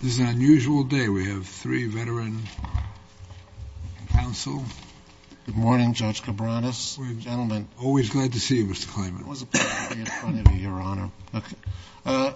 This is an unusual day. We have three veteran counsel. Good morning, Judge Cabranes. Gentlemen. Always glad to see you, Mr. Klayman. It was a pleasure to be in front of you, Your Honor. Okay.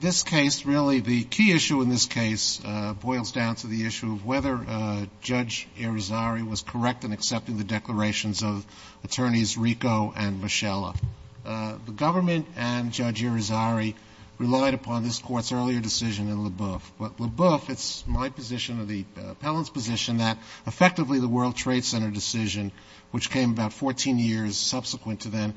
This case, really, the key issue in this case boils down to the issue of whether Judge Irizarry was correct in accepting the declarations of Attorneys Rico and Mischella. The government and Judge Irizarry relied upon this Court's earlier decision in LaBeouf. But LaBeouf, it's my position or the appellant's position that effectively the World Trade Center decision, which came about 14 years subsequent to then,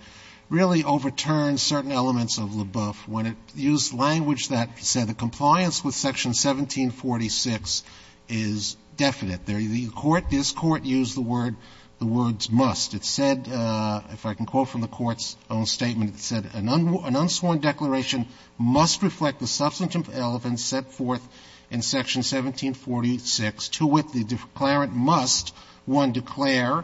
really overturned certain elements of LaBeouf when it used language that said the compliance with Section 1746 is definite. The Court, this Court, used the word, the words must. It said, if I can quote from the Court's own statement, it said, An unsworn declaration must reflect the substantive elements set forth in Section 1746, to which the declarant must, one, declare,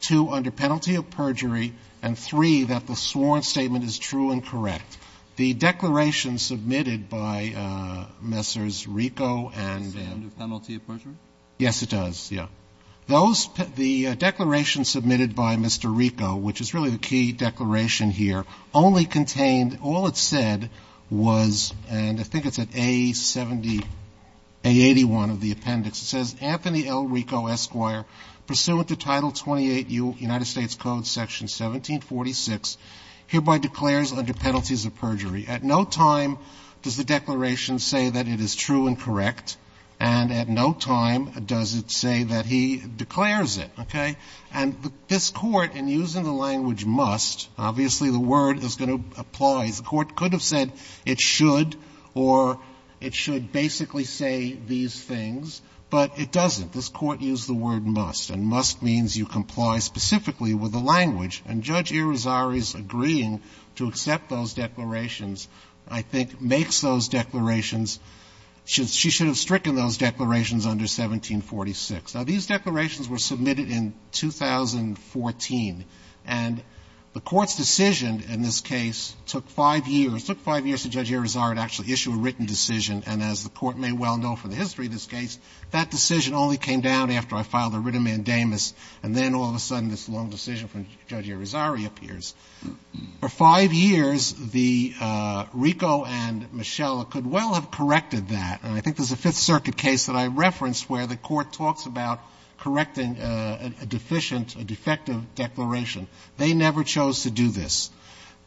two, under penalty of perjury, and three, that the sworn statement is true and correct. The declaration submitted by Messrs. Rico and the other one, under penalty of perjury? Yes, it does, yeah. Those, the declaration submitted by Mr. Rico, which is really the key declaration here, only contained, all it said was, and I think it's at A70, A81 of the appendix. It says, Anthony L. Rico, Esquire, pursuant to Title 28U, United States Code, Section 1746, hereby declares under penalties of perjury. At no time does the declaration say that it is true and correct. And at no time does it say that he declares it. Okay? And this Court, in using the language must, obviously the word is going to apply. The Court could have said it should, or it should basically say these things. But it doesn't. This Court used the word must. And must means you comply specifically with the language. And Judge Irizarry's agreeing to accept those declarations, I think, makes those declarations. She should have stricken those declarations under 1746. Now, these declarations were submitted in 2014. And the Court's decision in this case took 5 years. It took 5 years for Judge Irizarry to actually issue a written decision. And as the Court may well know from the history of this case, that decision only came down after I filed a written mandamus. And then all of a sudden this long decision from Judge Irizarry appears. For 5 years, the Rico and Mischella could well have corrected that. And I think there's a Fifth Circuit case that I referenced where the Court talks about correcting a deficient, a defective declaration. They never chose to do this.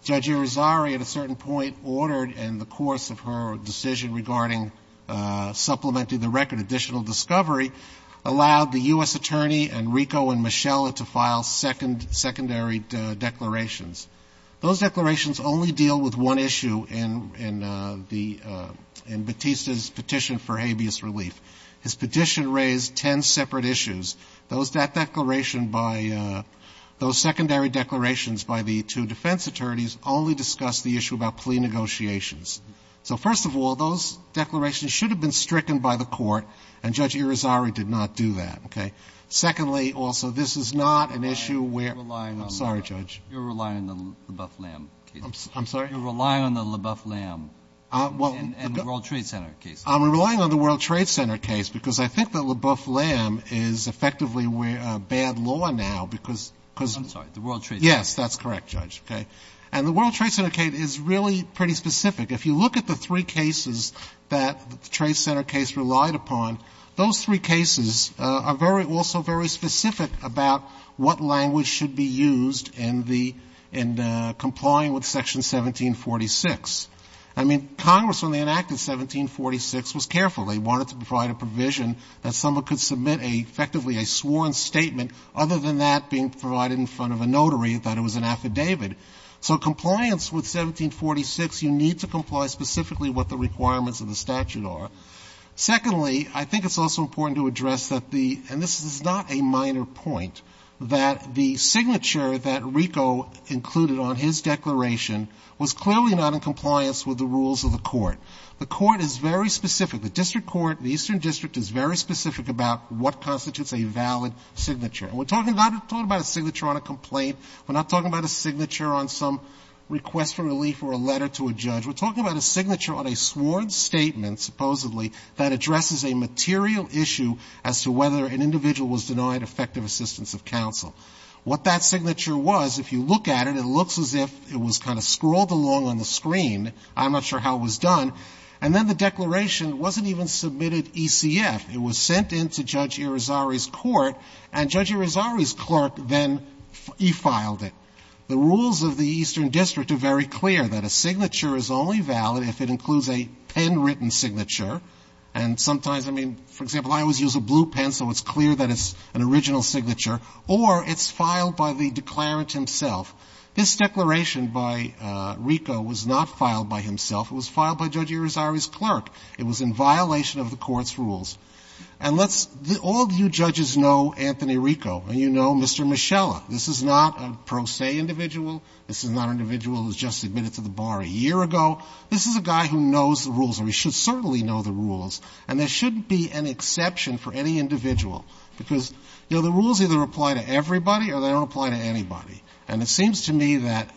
Judge Irizarry, at a certain point, ordered in the course of her decision regarding supplementing the record, additional discovery, allowed the U.S. attorney and Rico and Mischella to file second, secondary declarations. Those declarations only deal with one issue in the, in Batista's petition for habeas relief. His petition raised ten separate issues. Those declarations by, those secondary declarations by the two defense attorneys only discussed the issue about plea negotiations. So first of all, those declarations should have been stricken by the Court, and Judge Irizarry did not do that. Okay? Secondly, also, this is not an issue where you're relying on the Leboeuf-Lam I'm sorry, Judge. You're relying on the Leboeuf-Lam case. I'm sorry? You're relying on the Leboeuf-Lam and the World Trade Center case. I'm relying on the World Trade Center case because I think that Leboeuf-Lam is effectively bad law now because the World Trade Center case. Yes, that's correct, Judge. And the World Trade Center case is really pretty specific. If you look at the three cases that the Trade Center case relied upon, those three cases are very, also very specific about what language should be used in the, in complying with Section 1746. I mean, Congress, when they enacted 1746, was careful. They wanted to provide a provision that someone could submit a, effectively a sworn statement. Other than that being provided in front of a notary, they thought it was an affidavit. So compliance with 1746, you need to comply specifically with what the requirements of the statute are. Secondly, I think it's also important to address that the, and this is not a minor point, that the signature that Rico included on his declaration was clearly not in compliance with the rules of the Court. The Court is very specific. The district court, the Eastern District is very specific about what constitutes a valid signature. And we're talking not, we're talking about a signature on a complaint. We're not talking about a signature on some request for relief or a letter to a judge. We're talking about a signature on a sworn statement, supposedly, that addresses a material issue as to whether an individual was denied effective assistance of counsel. What that signature was, if you look at it, it looks as if it was kind of scrawled along on the screen. I'm not sure how it was done. And then the declaration wasn't even submitted ECF. It was sent in to Judge Irizarry's court, and Judge Irizarry's clerk then e-filed it. The rules of the Eastern District are very clear, that a signature is only valid if it includes a pen-written signature. And sometimes, I mean, for example, I always use a blue pen, so it's clear that it's an original signature. Or it's filed by the declarant himself. This declaration by Rico was not filed by himself. It was filed by Judge Irizarry's clerk. It was in violation of the Court's rules. And let's, all of you judges know Anthony Rico, and you know Mr. Michella. This is not a pro se individual. This is not an individual who's just admitted to the bar a year ago. This is a guy who knows the rules, or he should certainly know the rules. And there shouldn't be an exception for any individual, because, you know, the rules either apply to everybody or they don't apply to anybody. And it seems to me that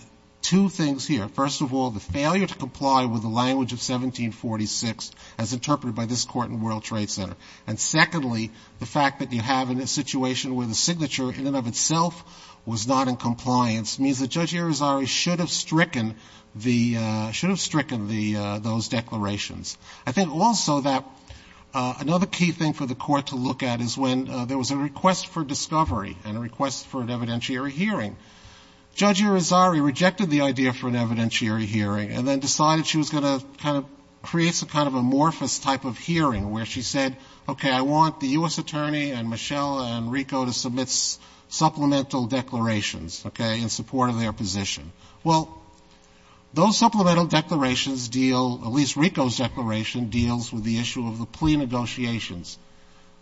two things here. First of all, the failure to comply with the language of 1746 as interpreted by this Court in World Trade Center. And secondly, the fact that you have a situation where the signature in and of itself was not in compliance means that Judge Irizarry should have stricken the, should have stricken the, those declarations. I think also that another key thing for the Court to look at is when there was a request for discovery and a request for an evidentiary hearing. Judge Irizarry rejected the idea for an evidentiary hearing and then decided she was going to kind of create some kind of amorphous type of hearing where she said, okay, I want the U.S. attorney and Michelle and Rico to submit supplemental declarations, okay, in support of their position. Well, those supplemental declarations deal, at least Rico's declaration deals with the issue of the plea negotiations.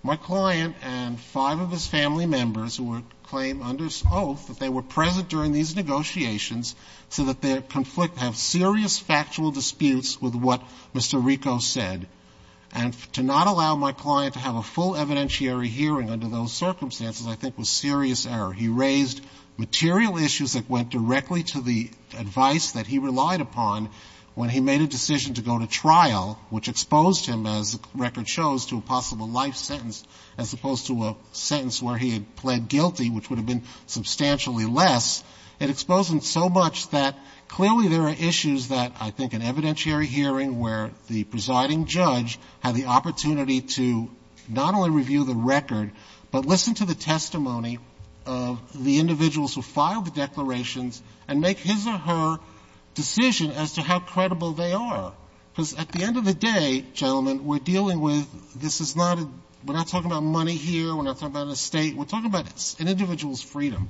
My client and five of his family members would claim under oath that they were present during these negotiations so that they conflict, have serious factual disputes with what Mr. Rico said, and to not allow my client to have a full evidentiary hearing under those circumstances I think was serious error. He raised material issues that went directly to the advice that he relied upon when he made a decision to go to trial, which exposed him, as the record shows, to a possible life sentence as opposed to a sentence where he had pled guilty, which would have been substantially less. It exposed him so much that clearly there are issues that I think an evidentiary hearing where the presiding judge had the opportunity to not only review the record, but listen to the testimony of the individuals who filed the declarations and make his or her decision as to how credible they are. Because at the end of the day, gentlemen, we're dealing with this is not a we're not talking about money here, we're not talking about an estate, we're talking about an individual's freedom,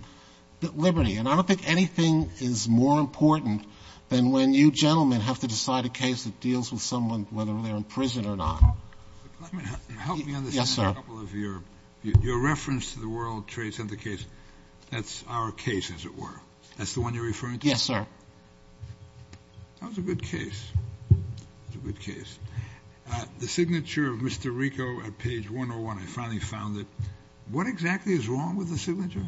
liberty, and I don't think anything is more important than when you gentlemen have to decide a case that deals with someone whether they're in prison or not. Yes, sir. Your reference to the World Trade Center case, that's our case, as it were. That's the one you're referring to? Yes, sir. That was a good case. That was a good case. The signature of Mr. Rico at page 101, I finally found it. What exactly is wrong with the signature?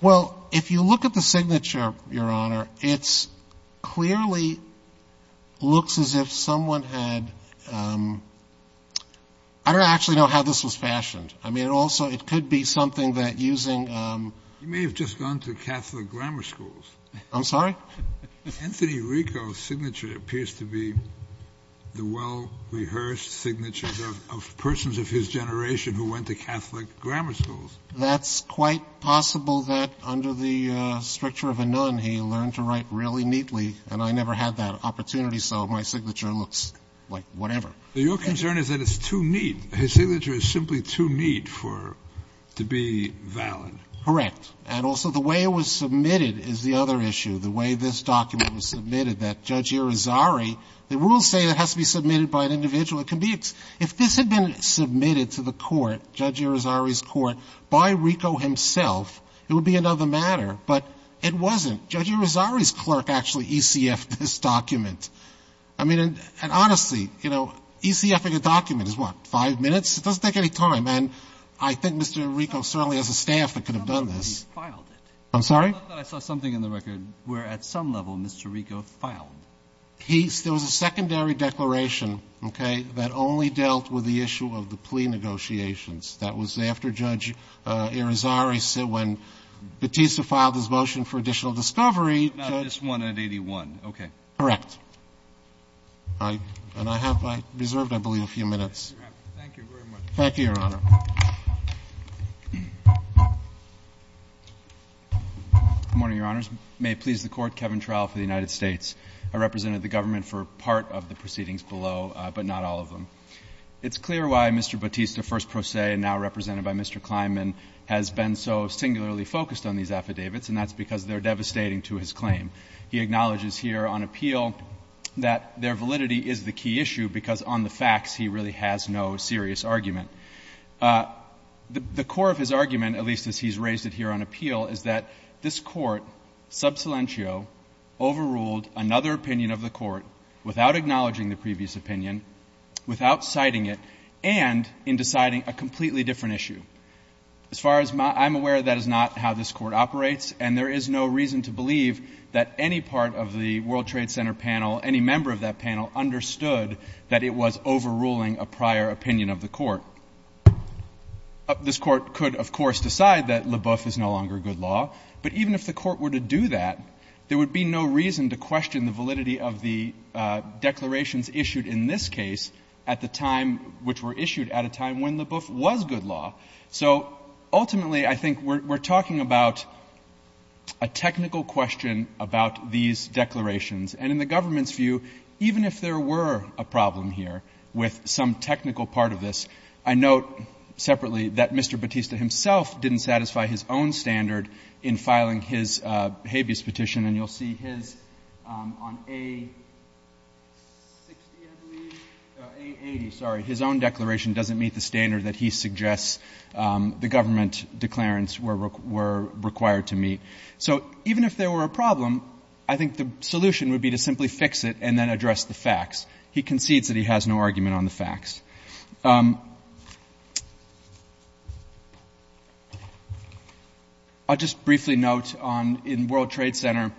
Well, if you look at the signature, Your Honor, it clearly looks as if someone had — I don't actually know how this was fashioned. I mean, it also — it could be something that using — You may have just gone to Catholic grammar schools. I'm sorry? Anthony Rico's signature appears to be the well-rehearsed signatures of persons of his generation who went to Catholic grammar schools. That's quite possible that under the stricture of a nun he learned to write really neatly, and I never had that opportunity, so my signature looks like whatever. Your concern is that it's too neat. His signature is simply too neat for — to be valid. Correct. And also the way it was submitted is the other issue, the way this document was submitted, that Judge Irizarry — the rules say it has to be submitted by an individual. It can be — if this had been submitted to the court, Judge Irizarry's court, by Rico himself, it would be another matter, but it wasn't. Judge Irizarry's clerk actually ECF'd this document. I mean, and honestly, you know, ECFing a document is what, five minutes? It doesn't take any time, and I think Mr. Rico certainly has a staff that could have done this. I'm sorry? I thought that I saw something in the record where at some level Mr. Rico filed. He — there was a secondary declaration, okay, that only dealt with the issue of the plea negotiations. That was after Judge Irizarry said when Batista filed his motion for additional discovery, Judge — Not this one at 81. Okay. Correct. And I have reserved, I believe, a few minutes. Thank you very much. Thank you, Your Honor. Good morning, Your Honors. May it please the Court, Kevin Trowell for the United States. I represented the government for part of the proceedings below, but not all of them. It's clear why Mr. Batista, first pro se and now represented by Mr. Kleinman, has been so singularly focused on these affidavits, and that's because they're devastating to his claim. He acknowledges here on appeal that their validity is the key issue because on the facts he really has no serious argument. The core of his argument, at least as he's raised it here on appeal, is that this court, sub silentio, overruled another opinion of the court without acknowledging the previous opinion, without citing it, and in deciding a completely different issue. As far as my — I'm aware that is not how this court operates, and there is no reason to believe that any part of the World Trade Center panel, any member of that panel understood that it was overruling a prior opinion of the court. This court could, of course, decide that Leboeuf is no longer good law, but even if the court were to do that, there would be no reason to question the validity of the declarations issued in this case at the time which were issued at a time when Leboeuf was good law. So ultimately, I think we're talking about a technical question about these declarations, and in the government's view, even if there were a problem here with some technical part of this, I note separately that Mr. Batista himself didn't satisfy his own standard in filing his habeas petition, and you'll see his on A-60, I believe, A-80, sorry, his own declaration doesn't meet the standard that he suggests the government declarants were required to meet. So even if there were a problem, I think the solution would be to simply fix it and then address the facts. He concedes that he has no argument on the facts. I'll just briefly note on, in World Trade Center,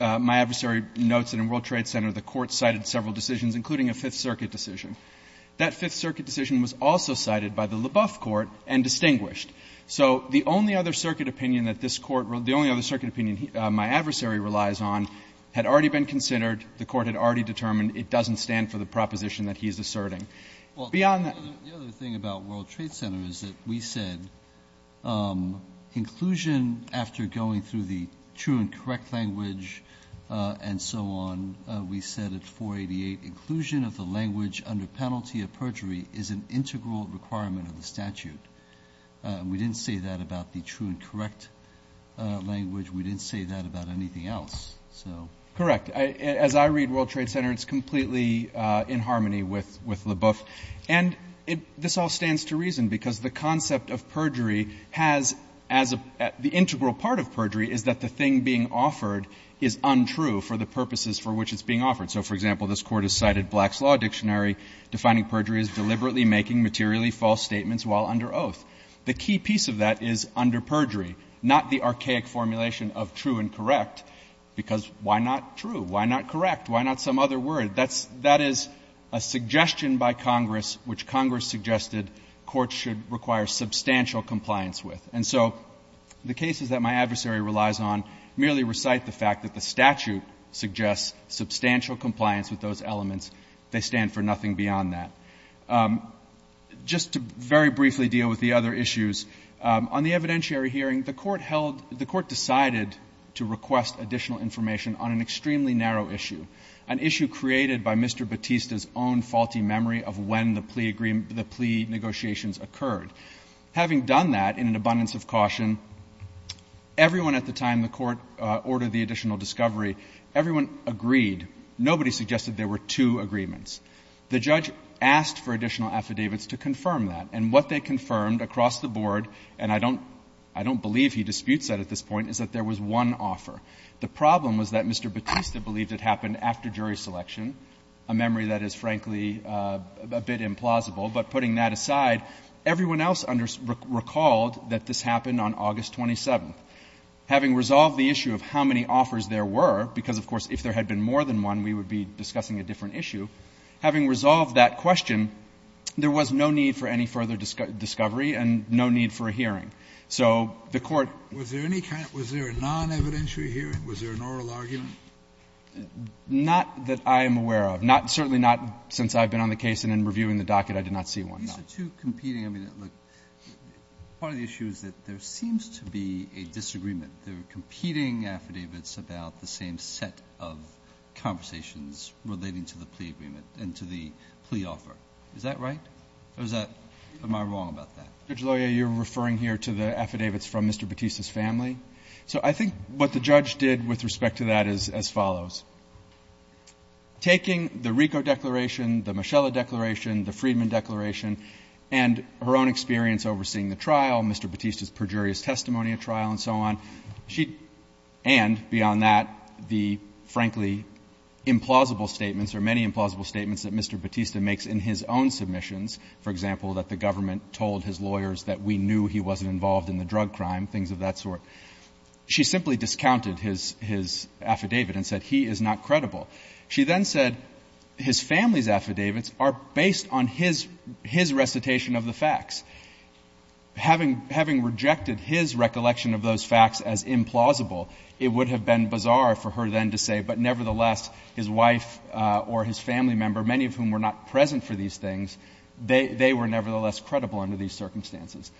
my adversary notes that in World Trade Center the court cited several decisions, including a Fifth Circuit decision. That Fifth Circuit decision was also cited by the Leboeuf court and distinguished. So the only other circuit opinion that this court, the only other circuit opinion my adversary relies on had already been considered, the court had already determined it doesn't stand for the proposition that he's asserting. Beyond that — Well, the other thing about World Trade Center is that we said inclusion after going through the true and correct language and so on, we said at 488, inclusion of the language under penalty of perjury is an integral requirement of the statute. We didn't say that about the true and correct language. We didn't say that about anything else. Correct. As I read World Trade Center, it's completely in harmony with Leboeuf. And this all stands to reason, because the concept of perjury has as a — the integral part of perjury is that the thing being offered is untrue for the purposes for which it's being offered. So, for example, this Court has cited Black's Law Dictionary defining perjury as deliberately making materially false statements while under oath. The key piece of that is under perjury, not the archaic formulation of true and correct because why not true? Why not correct? Why not some other word? That is a suggestion by Congress which Congress suggested courts should require substantial compliance with. And so the cases that my adversary relies on merely recite the fact that the statute suggests substantial compliance with those elements. They stand for nothing beyond that. Just to very briefly deal with the other issues, on the evidentiary hearing, the Court held — the Court decided to request additional information on an extremely narrow issue, an issue created by Mr. Batista's own faulty memory of when the plea negotiations occurred. Having done that, in an abundance of caution, everyone at the time the Court ordered the additional discovery, everyone agreed. Nobody suggested there were two agreements. The judge asked for additional affidavits to confirm that. And what they confirmed across the board, and I don't — I don't believe he disputes that at this point, is that there was one offer. The problem was that Mr. Batista believed it happened after jury selection, a memory that is, frankly, a bit implausible. But putting that aside, everyone else recalled that this happened on August 27th. Having resolved the issue of how many offers there were, because, of course, if there had been more than one, we would be discussing a different issue. Having resolved that question, there was no need for any further discovery and no need for a hearing. So the Court — Kennedy. Was there any kind of — was there a non-evidentiary hearing? Was there an oral argument? Fisher. Not that I am aware of. Not — certainly not since I've been on the case and in reviewing the docket, I did not see one. Alito. These are two competing — I mean, look, part of the issue is that there seems to be a disagreement. They're competing affidavits about the same set of conversations relating to the plea agreement and to the plea offer. Is that right? Or is that — am I wrong about that? Judge Loyer, you're referring here to the affidavits from Mr. Batista's family. So I think what the judge did with respect to that is as follows. Taking the Rico Declaration, the Mischella Declaration, the Friedman Declaration, and her own experience overseeing the trial, Mr. Batista's perjurious testimony at trial and so on, she — and, beyond that, the, frankly, implausible statements or many implausible statements that Mr. Batista makes in his own submissions, for example, that the government told his lawyers that we knew he wasn't involved in the drug crime, things of that sort, she simply discounted his — his affidavit and said he is not credible. She then said his family's affidavits are based on his — his recitation of the facts. Having — having rejected his recollection of those facts as implausible, it would have been bizarre for her then to say, but nevertheless, his wife or his family member, many of whom were not present for these things, they were nevertheless credible under these circumstances.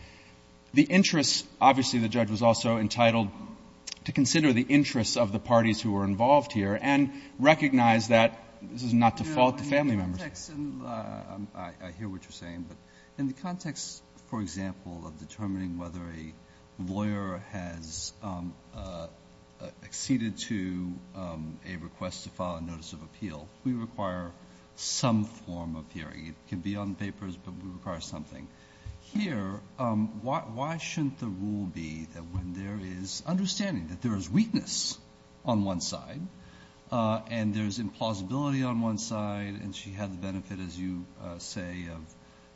The interest — obviously, the judge was also entitled to consider the interests of the parties who were involved here and recognize that this is not to fault the family members. In the context — and I hear what you're saying, but in the context, for example, of determining whether a lawyer has acceded to a request to file a notice of appeal, we require some form of hearing. It can be on papers, but we require something. Here, why shouldn't the rule be that when there is understanding, that there is weakness on one side and there's implausibility on one side, and she had the benefit, as you say, of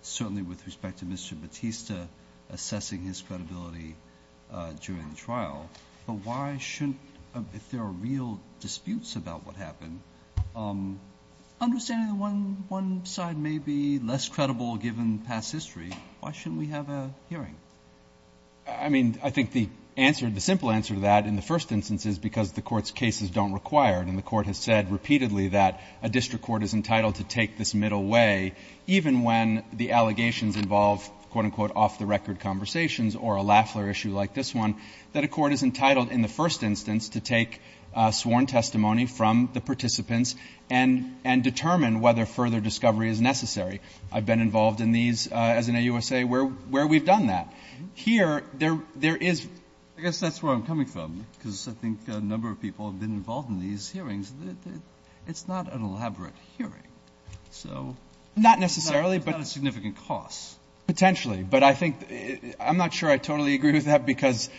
certainly with respect to Mr. Batista assessing his credibility during the trial, but why shouldn't — if there are real disputes about what happened, understanding that one — one side may be less credible given past history, why shouldn't we have a hearing? I mean, I think the answer — the simple answer to that in the first instance is because the Court's cases don't require, and the Court has said repeatedly that a district court is entitled to take this middle way, even when the allegations involve, quote-unquote, off-the-record conversations or a Lafler issue like this one, that a court is entitled in the first instance to take sworn testimony from the participants and — and determine whether further discovery is necessary. I've been involved in these as an AUSA where — where we've done that. Here, there — there is — I guess that's where I'm coming from, because I think a number of people have been involved in these hearings that it's not an elaborate hearing. So — Not necessarily, but — It's not a significant cost. Potentially. But I think — I'm not sure I totally agree with that, because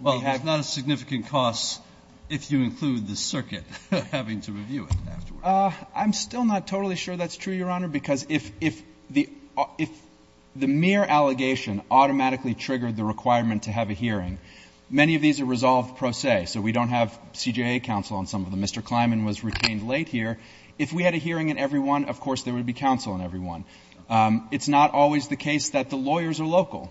we have — Well, it's not a significant cost if you include the circuit having to review it afterwards. I'm still not totally sure that's true, Your Honor, because if — if the — if the mere allegation automatically triggered the requirement to have a hearing, many of these are resolved pro se. So we don't have CJA counsel on some of them. Mr. Kleinman was retained late here. If we had a hearing in every one, of course, there would be counsel in every one. It's not always the case that the lawyers are local.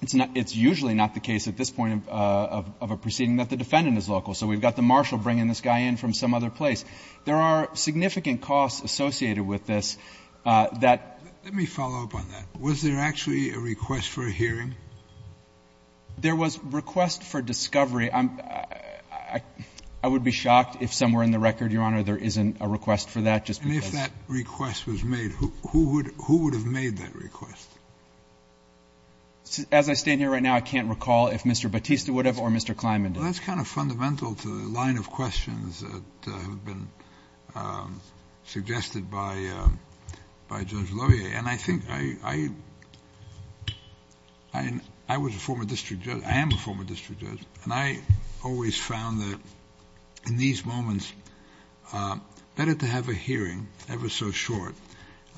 It's not — it's usually not the case at this point of — of a proceeding that the defendant is local. So we've got the marshal bringing this guy in from some other place. There are significant costs associated with this that — Let me follow up on that. Was there actually a request for a hearing? There was a request for discovery. I'm — I would be shocked if somewhere in the record, Your Honor, there isn't a request for that, just because — And if that request was made, who would — who would have made that request? As I stand here right now, I can't recall if Mr. Batista would have or Mr. Kleinman did. Well, that's kind of fundamental to the line of questions that have been suggested by — by Judge Loyer. Okay. And I think I — I was a former district judge. I am a former district judge. And I always found that in these moments, better to have a hearing, ever so short.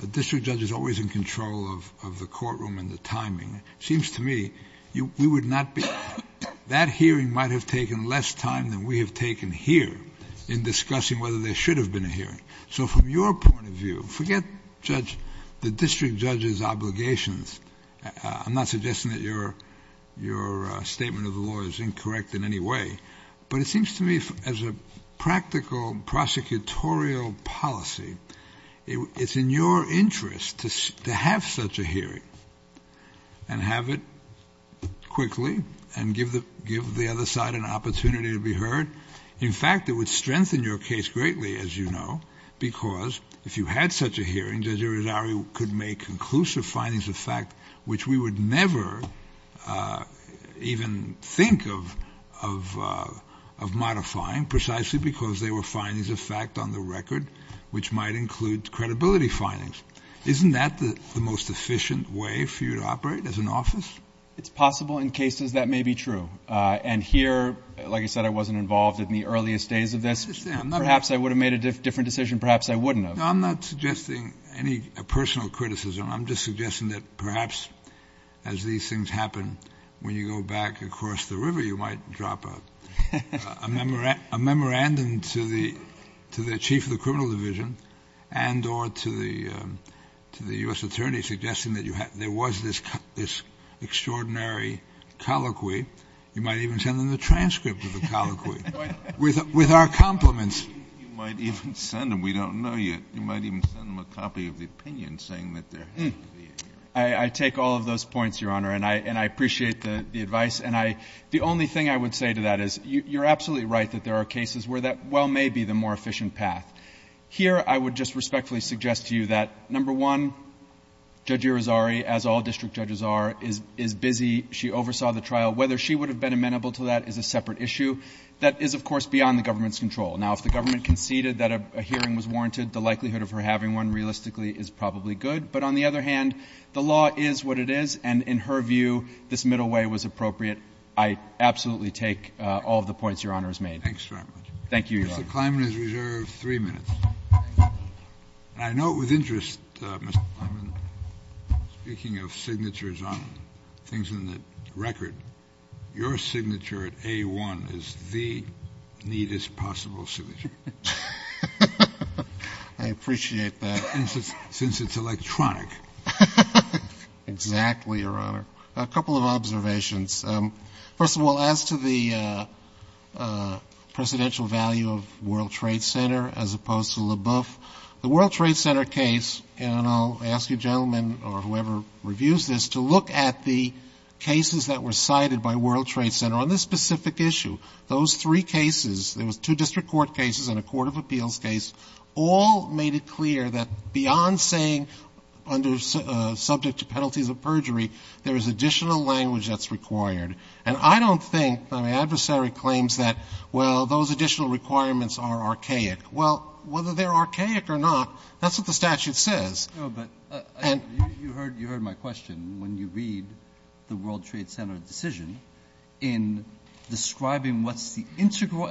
A district judge is always in control of the courtroom and the timing. It seems to me we would not be — that hearing might have taken less time than we have taken here in discussing whether there should have been a hearing. So from your point of view — forget judge — the district judge's obligations. I'm not suggesting that your — your statement of the law is incorrect in any way. But it seems to me, as a practical prosecutorial policy, it's in your interest to have such a hearing and have it quickly and give the — give the other side an opportunity to be heard. In fact, it would strengthen your case greatly, as you know, because if you had such a hearing, Judge Irizarry could make conclusive findings of fact, which we would never even think of — of modifying, precisely because they were findings of fact on the record, which might include credibility findings. Isn't that the most efficient way for you to operate as an office? It's possible in cases that may be true. And here, like you said, I wasn't involved in the earliest days of this. Perhaps I would have made a different decision. Perhaps I wouldn't have. No, I'm not suggesting any personal criticism. I'm just suggesting that perhaps as these things happen, when you go back across the river, you might drop a — a memorandum to the — to the chief of the criminal division and or to the — to the U.S. attorney suggesting that you had — there was this extraordinary colloquy. You might even send them the transcript of the colloquy with our compliments. You might even send them — we don't know yet. You might even send them a copy of the opinion saying that there has to be a hearing. I take all of those points, Your Honor. And I — and I appreciate the advice. And I — the only thing I would say to that is you're absolutely right that there are cases where that well may be the more efficient path. Here, I would just respectfully suggest to you that, number one, Judge Irizarry, as all district judges are, is — is busy. She oversaw the trial. Whether she would have been amenable to that is a separate issue. That is, of course, beyond the government's control. Now, if the government conceded that a hearing was warranted, the likelihood of her having one realistically is probably good. But on the other hand, the law is what it is. And in her view, this middle way was appropriate. Thanks very much. Thank you, Your Honor. Mr. Kleinman is reserved three minutes. And I note with interest, Mr. Kleinman, speaking of signatures on things in the record, your signature at A-1 is the neatest possible signature. I appreciate that. Since it's electronic. Exactly, Your Honor. A couple of observations. First of all, as to the presidential value of World Trade Center as opposed to LaBeouf, the World Trade Center case — and I'll ask a gentleman or whoever reviews this to look at the cases that were cited by World Trade Center on this specific issue. Those three cases, there was two district court cases and a court of appeals case, all made it clear that beyond saying subject to penalties of perjury, there is additional language that's required. And I don't think — my adversary claims that, well, those additional requirements are archaic. Well, whether they're archaic or not, that's what the statute says. No, but you heard my question. When you read the World Trade Center decision, in describing what's the integral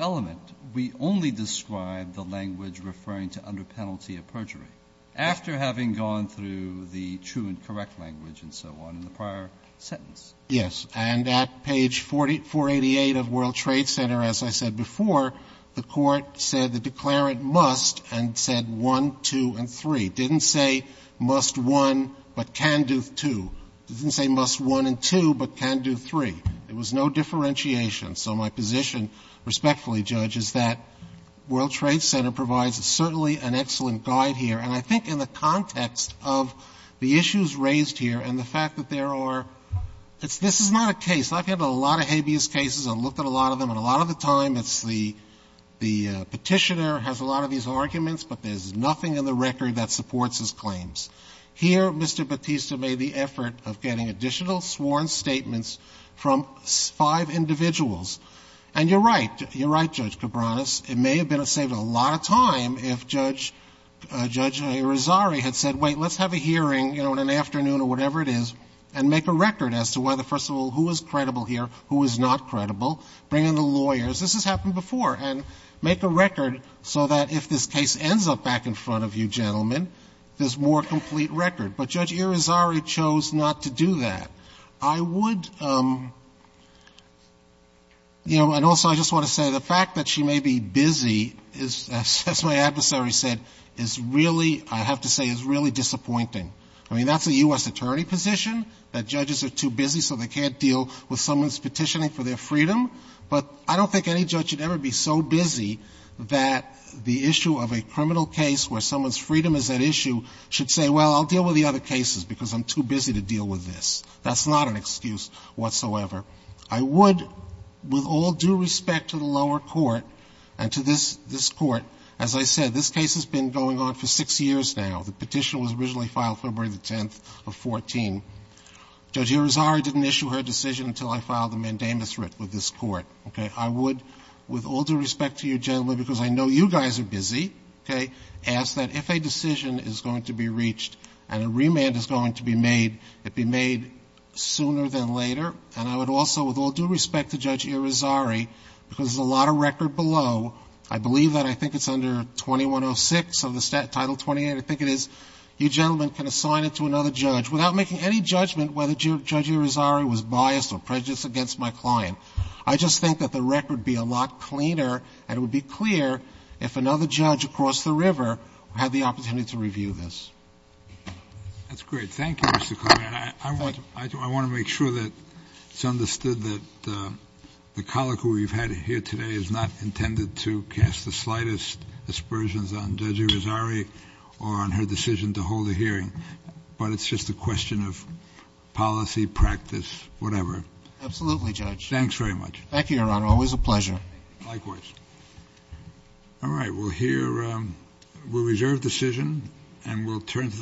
after having gone through the true and correct language and so on in the prior sentence. Yes. And at page 488 of World Trade Center, as I said before, the court said the declarant must and said one, two, and three. It didn't say must one, but can do two. It didn't say must one and two, but can do three. There was no differentiation. So my position, respectfully, Judge, is that World Trade Center provides certainly an excellent guide here. And I think in the context of the issues raised here and the fact that there are — this is not a case. I've had a lot of habeas cases. I've looked at a lot of them. And a lot of the time, it's the Petitioner has a lot of these arguments, but there's nothing in the record that supports his claims. Here, Mr. Batista made the effort of getting additional sworn statements from five individuals. And you're right. You're right, Judge Cabranes. It may have saved a lot of time if Judge Irizarry had said, wait, let's have a hearing, you know, in an afternoon or whatever it is, and make a record as to whether, first of all, who is credible here, who is not credible, bring in the lawyers. This has happened before. And make a record so that if this case ends up back in front of you gentlemen, there's more complete record. But Judge Irizarry chose not to do that. I would, you know, and also I just want to say the fact that she may be busy, as my adversary said, is really, I have to say, is really disappointing. I mean, that's a U.S. attorney position, that judges are too busy so they can't deal with someone's petitioning for their freedom. But I don't think any judge should ever be so busy that the issue of a criminal case where someone's freedom is at issue should say, well, I'll deal with the other cases because I'm too busy to deal with this. That's not an excuse whatsoever. I would, with all due respect to the lower court and to this Court, as I said, this case has been going on for six years now. The petition was originally filed February the 10th of 14. Judge Irizarry didn't issue her decision until I filed the mandamus writ with this Court. Okay. I would, with all due respect to you gentlemen, because I know you guys are busy, okay, ask that if a decision is going to be reached and a remand is going to be made, it be made sooner than later. And I would also, with all due respect to Judge Irizarry, because there's a lot of record below, I believe that I think it's under 2106 of the Title 28. I think it is. You gentlemen can assign it to another judge without making any judgment whether Judge Irizarry was biased or prejudiced against my client. I just think that the record would be a lot cleaner and it would be clear if another judge across the river had the opportunity to review this. That's great. Thank you, Mr. Clement. I want to make sure that it's understood that the colloquy we've had here today is not intended to cast the slightest aspersions on Judge Irizarry or on her decision to hold a hearing, but it's just a question of policy, practice, whatever. Absolutely, Judge. Thanks very much. Thank you, Your Honor. Always a pleasure. Likewise. All right. We'll hear—we'll reserve decision and we'll turn to the—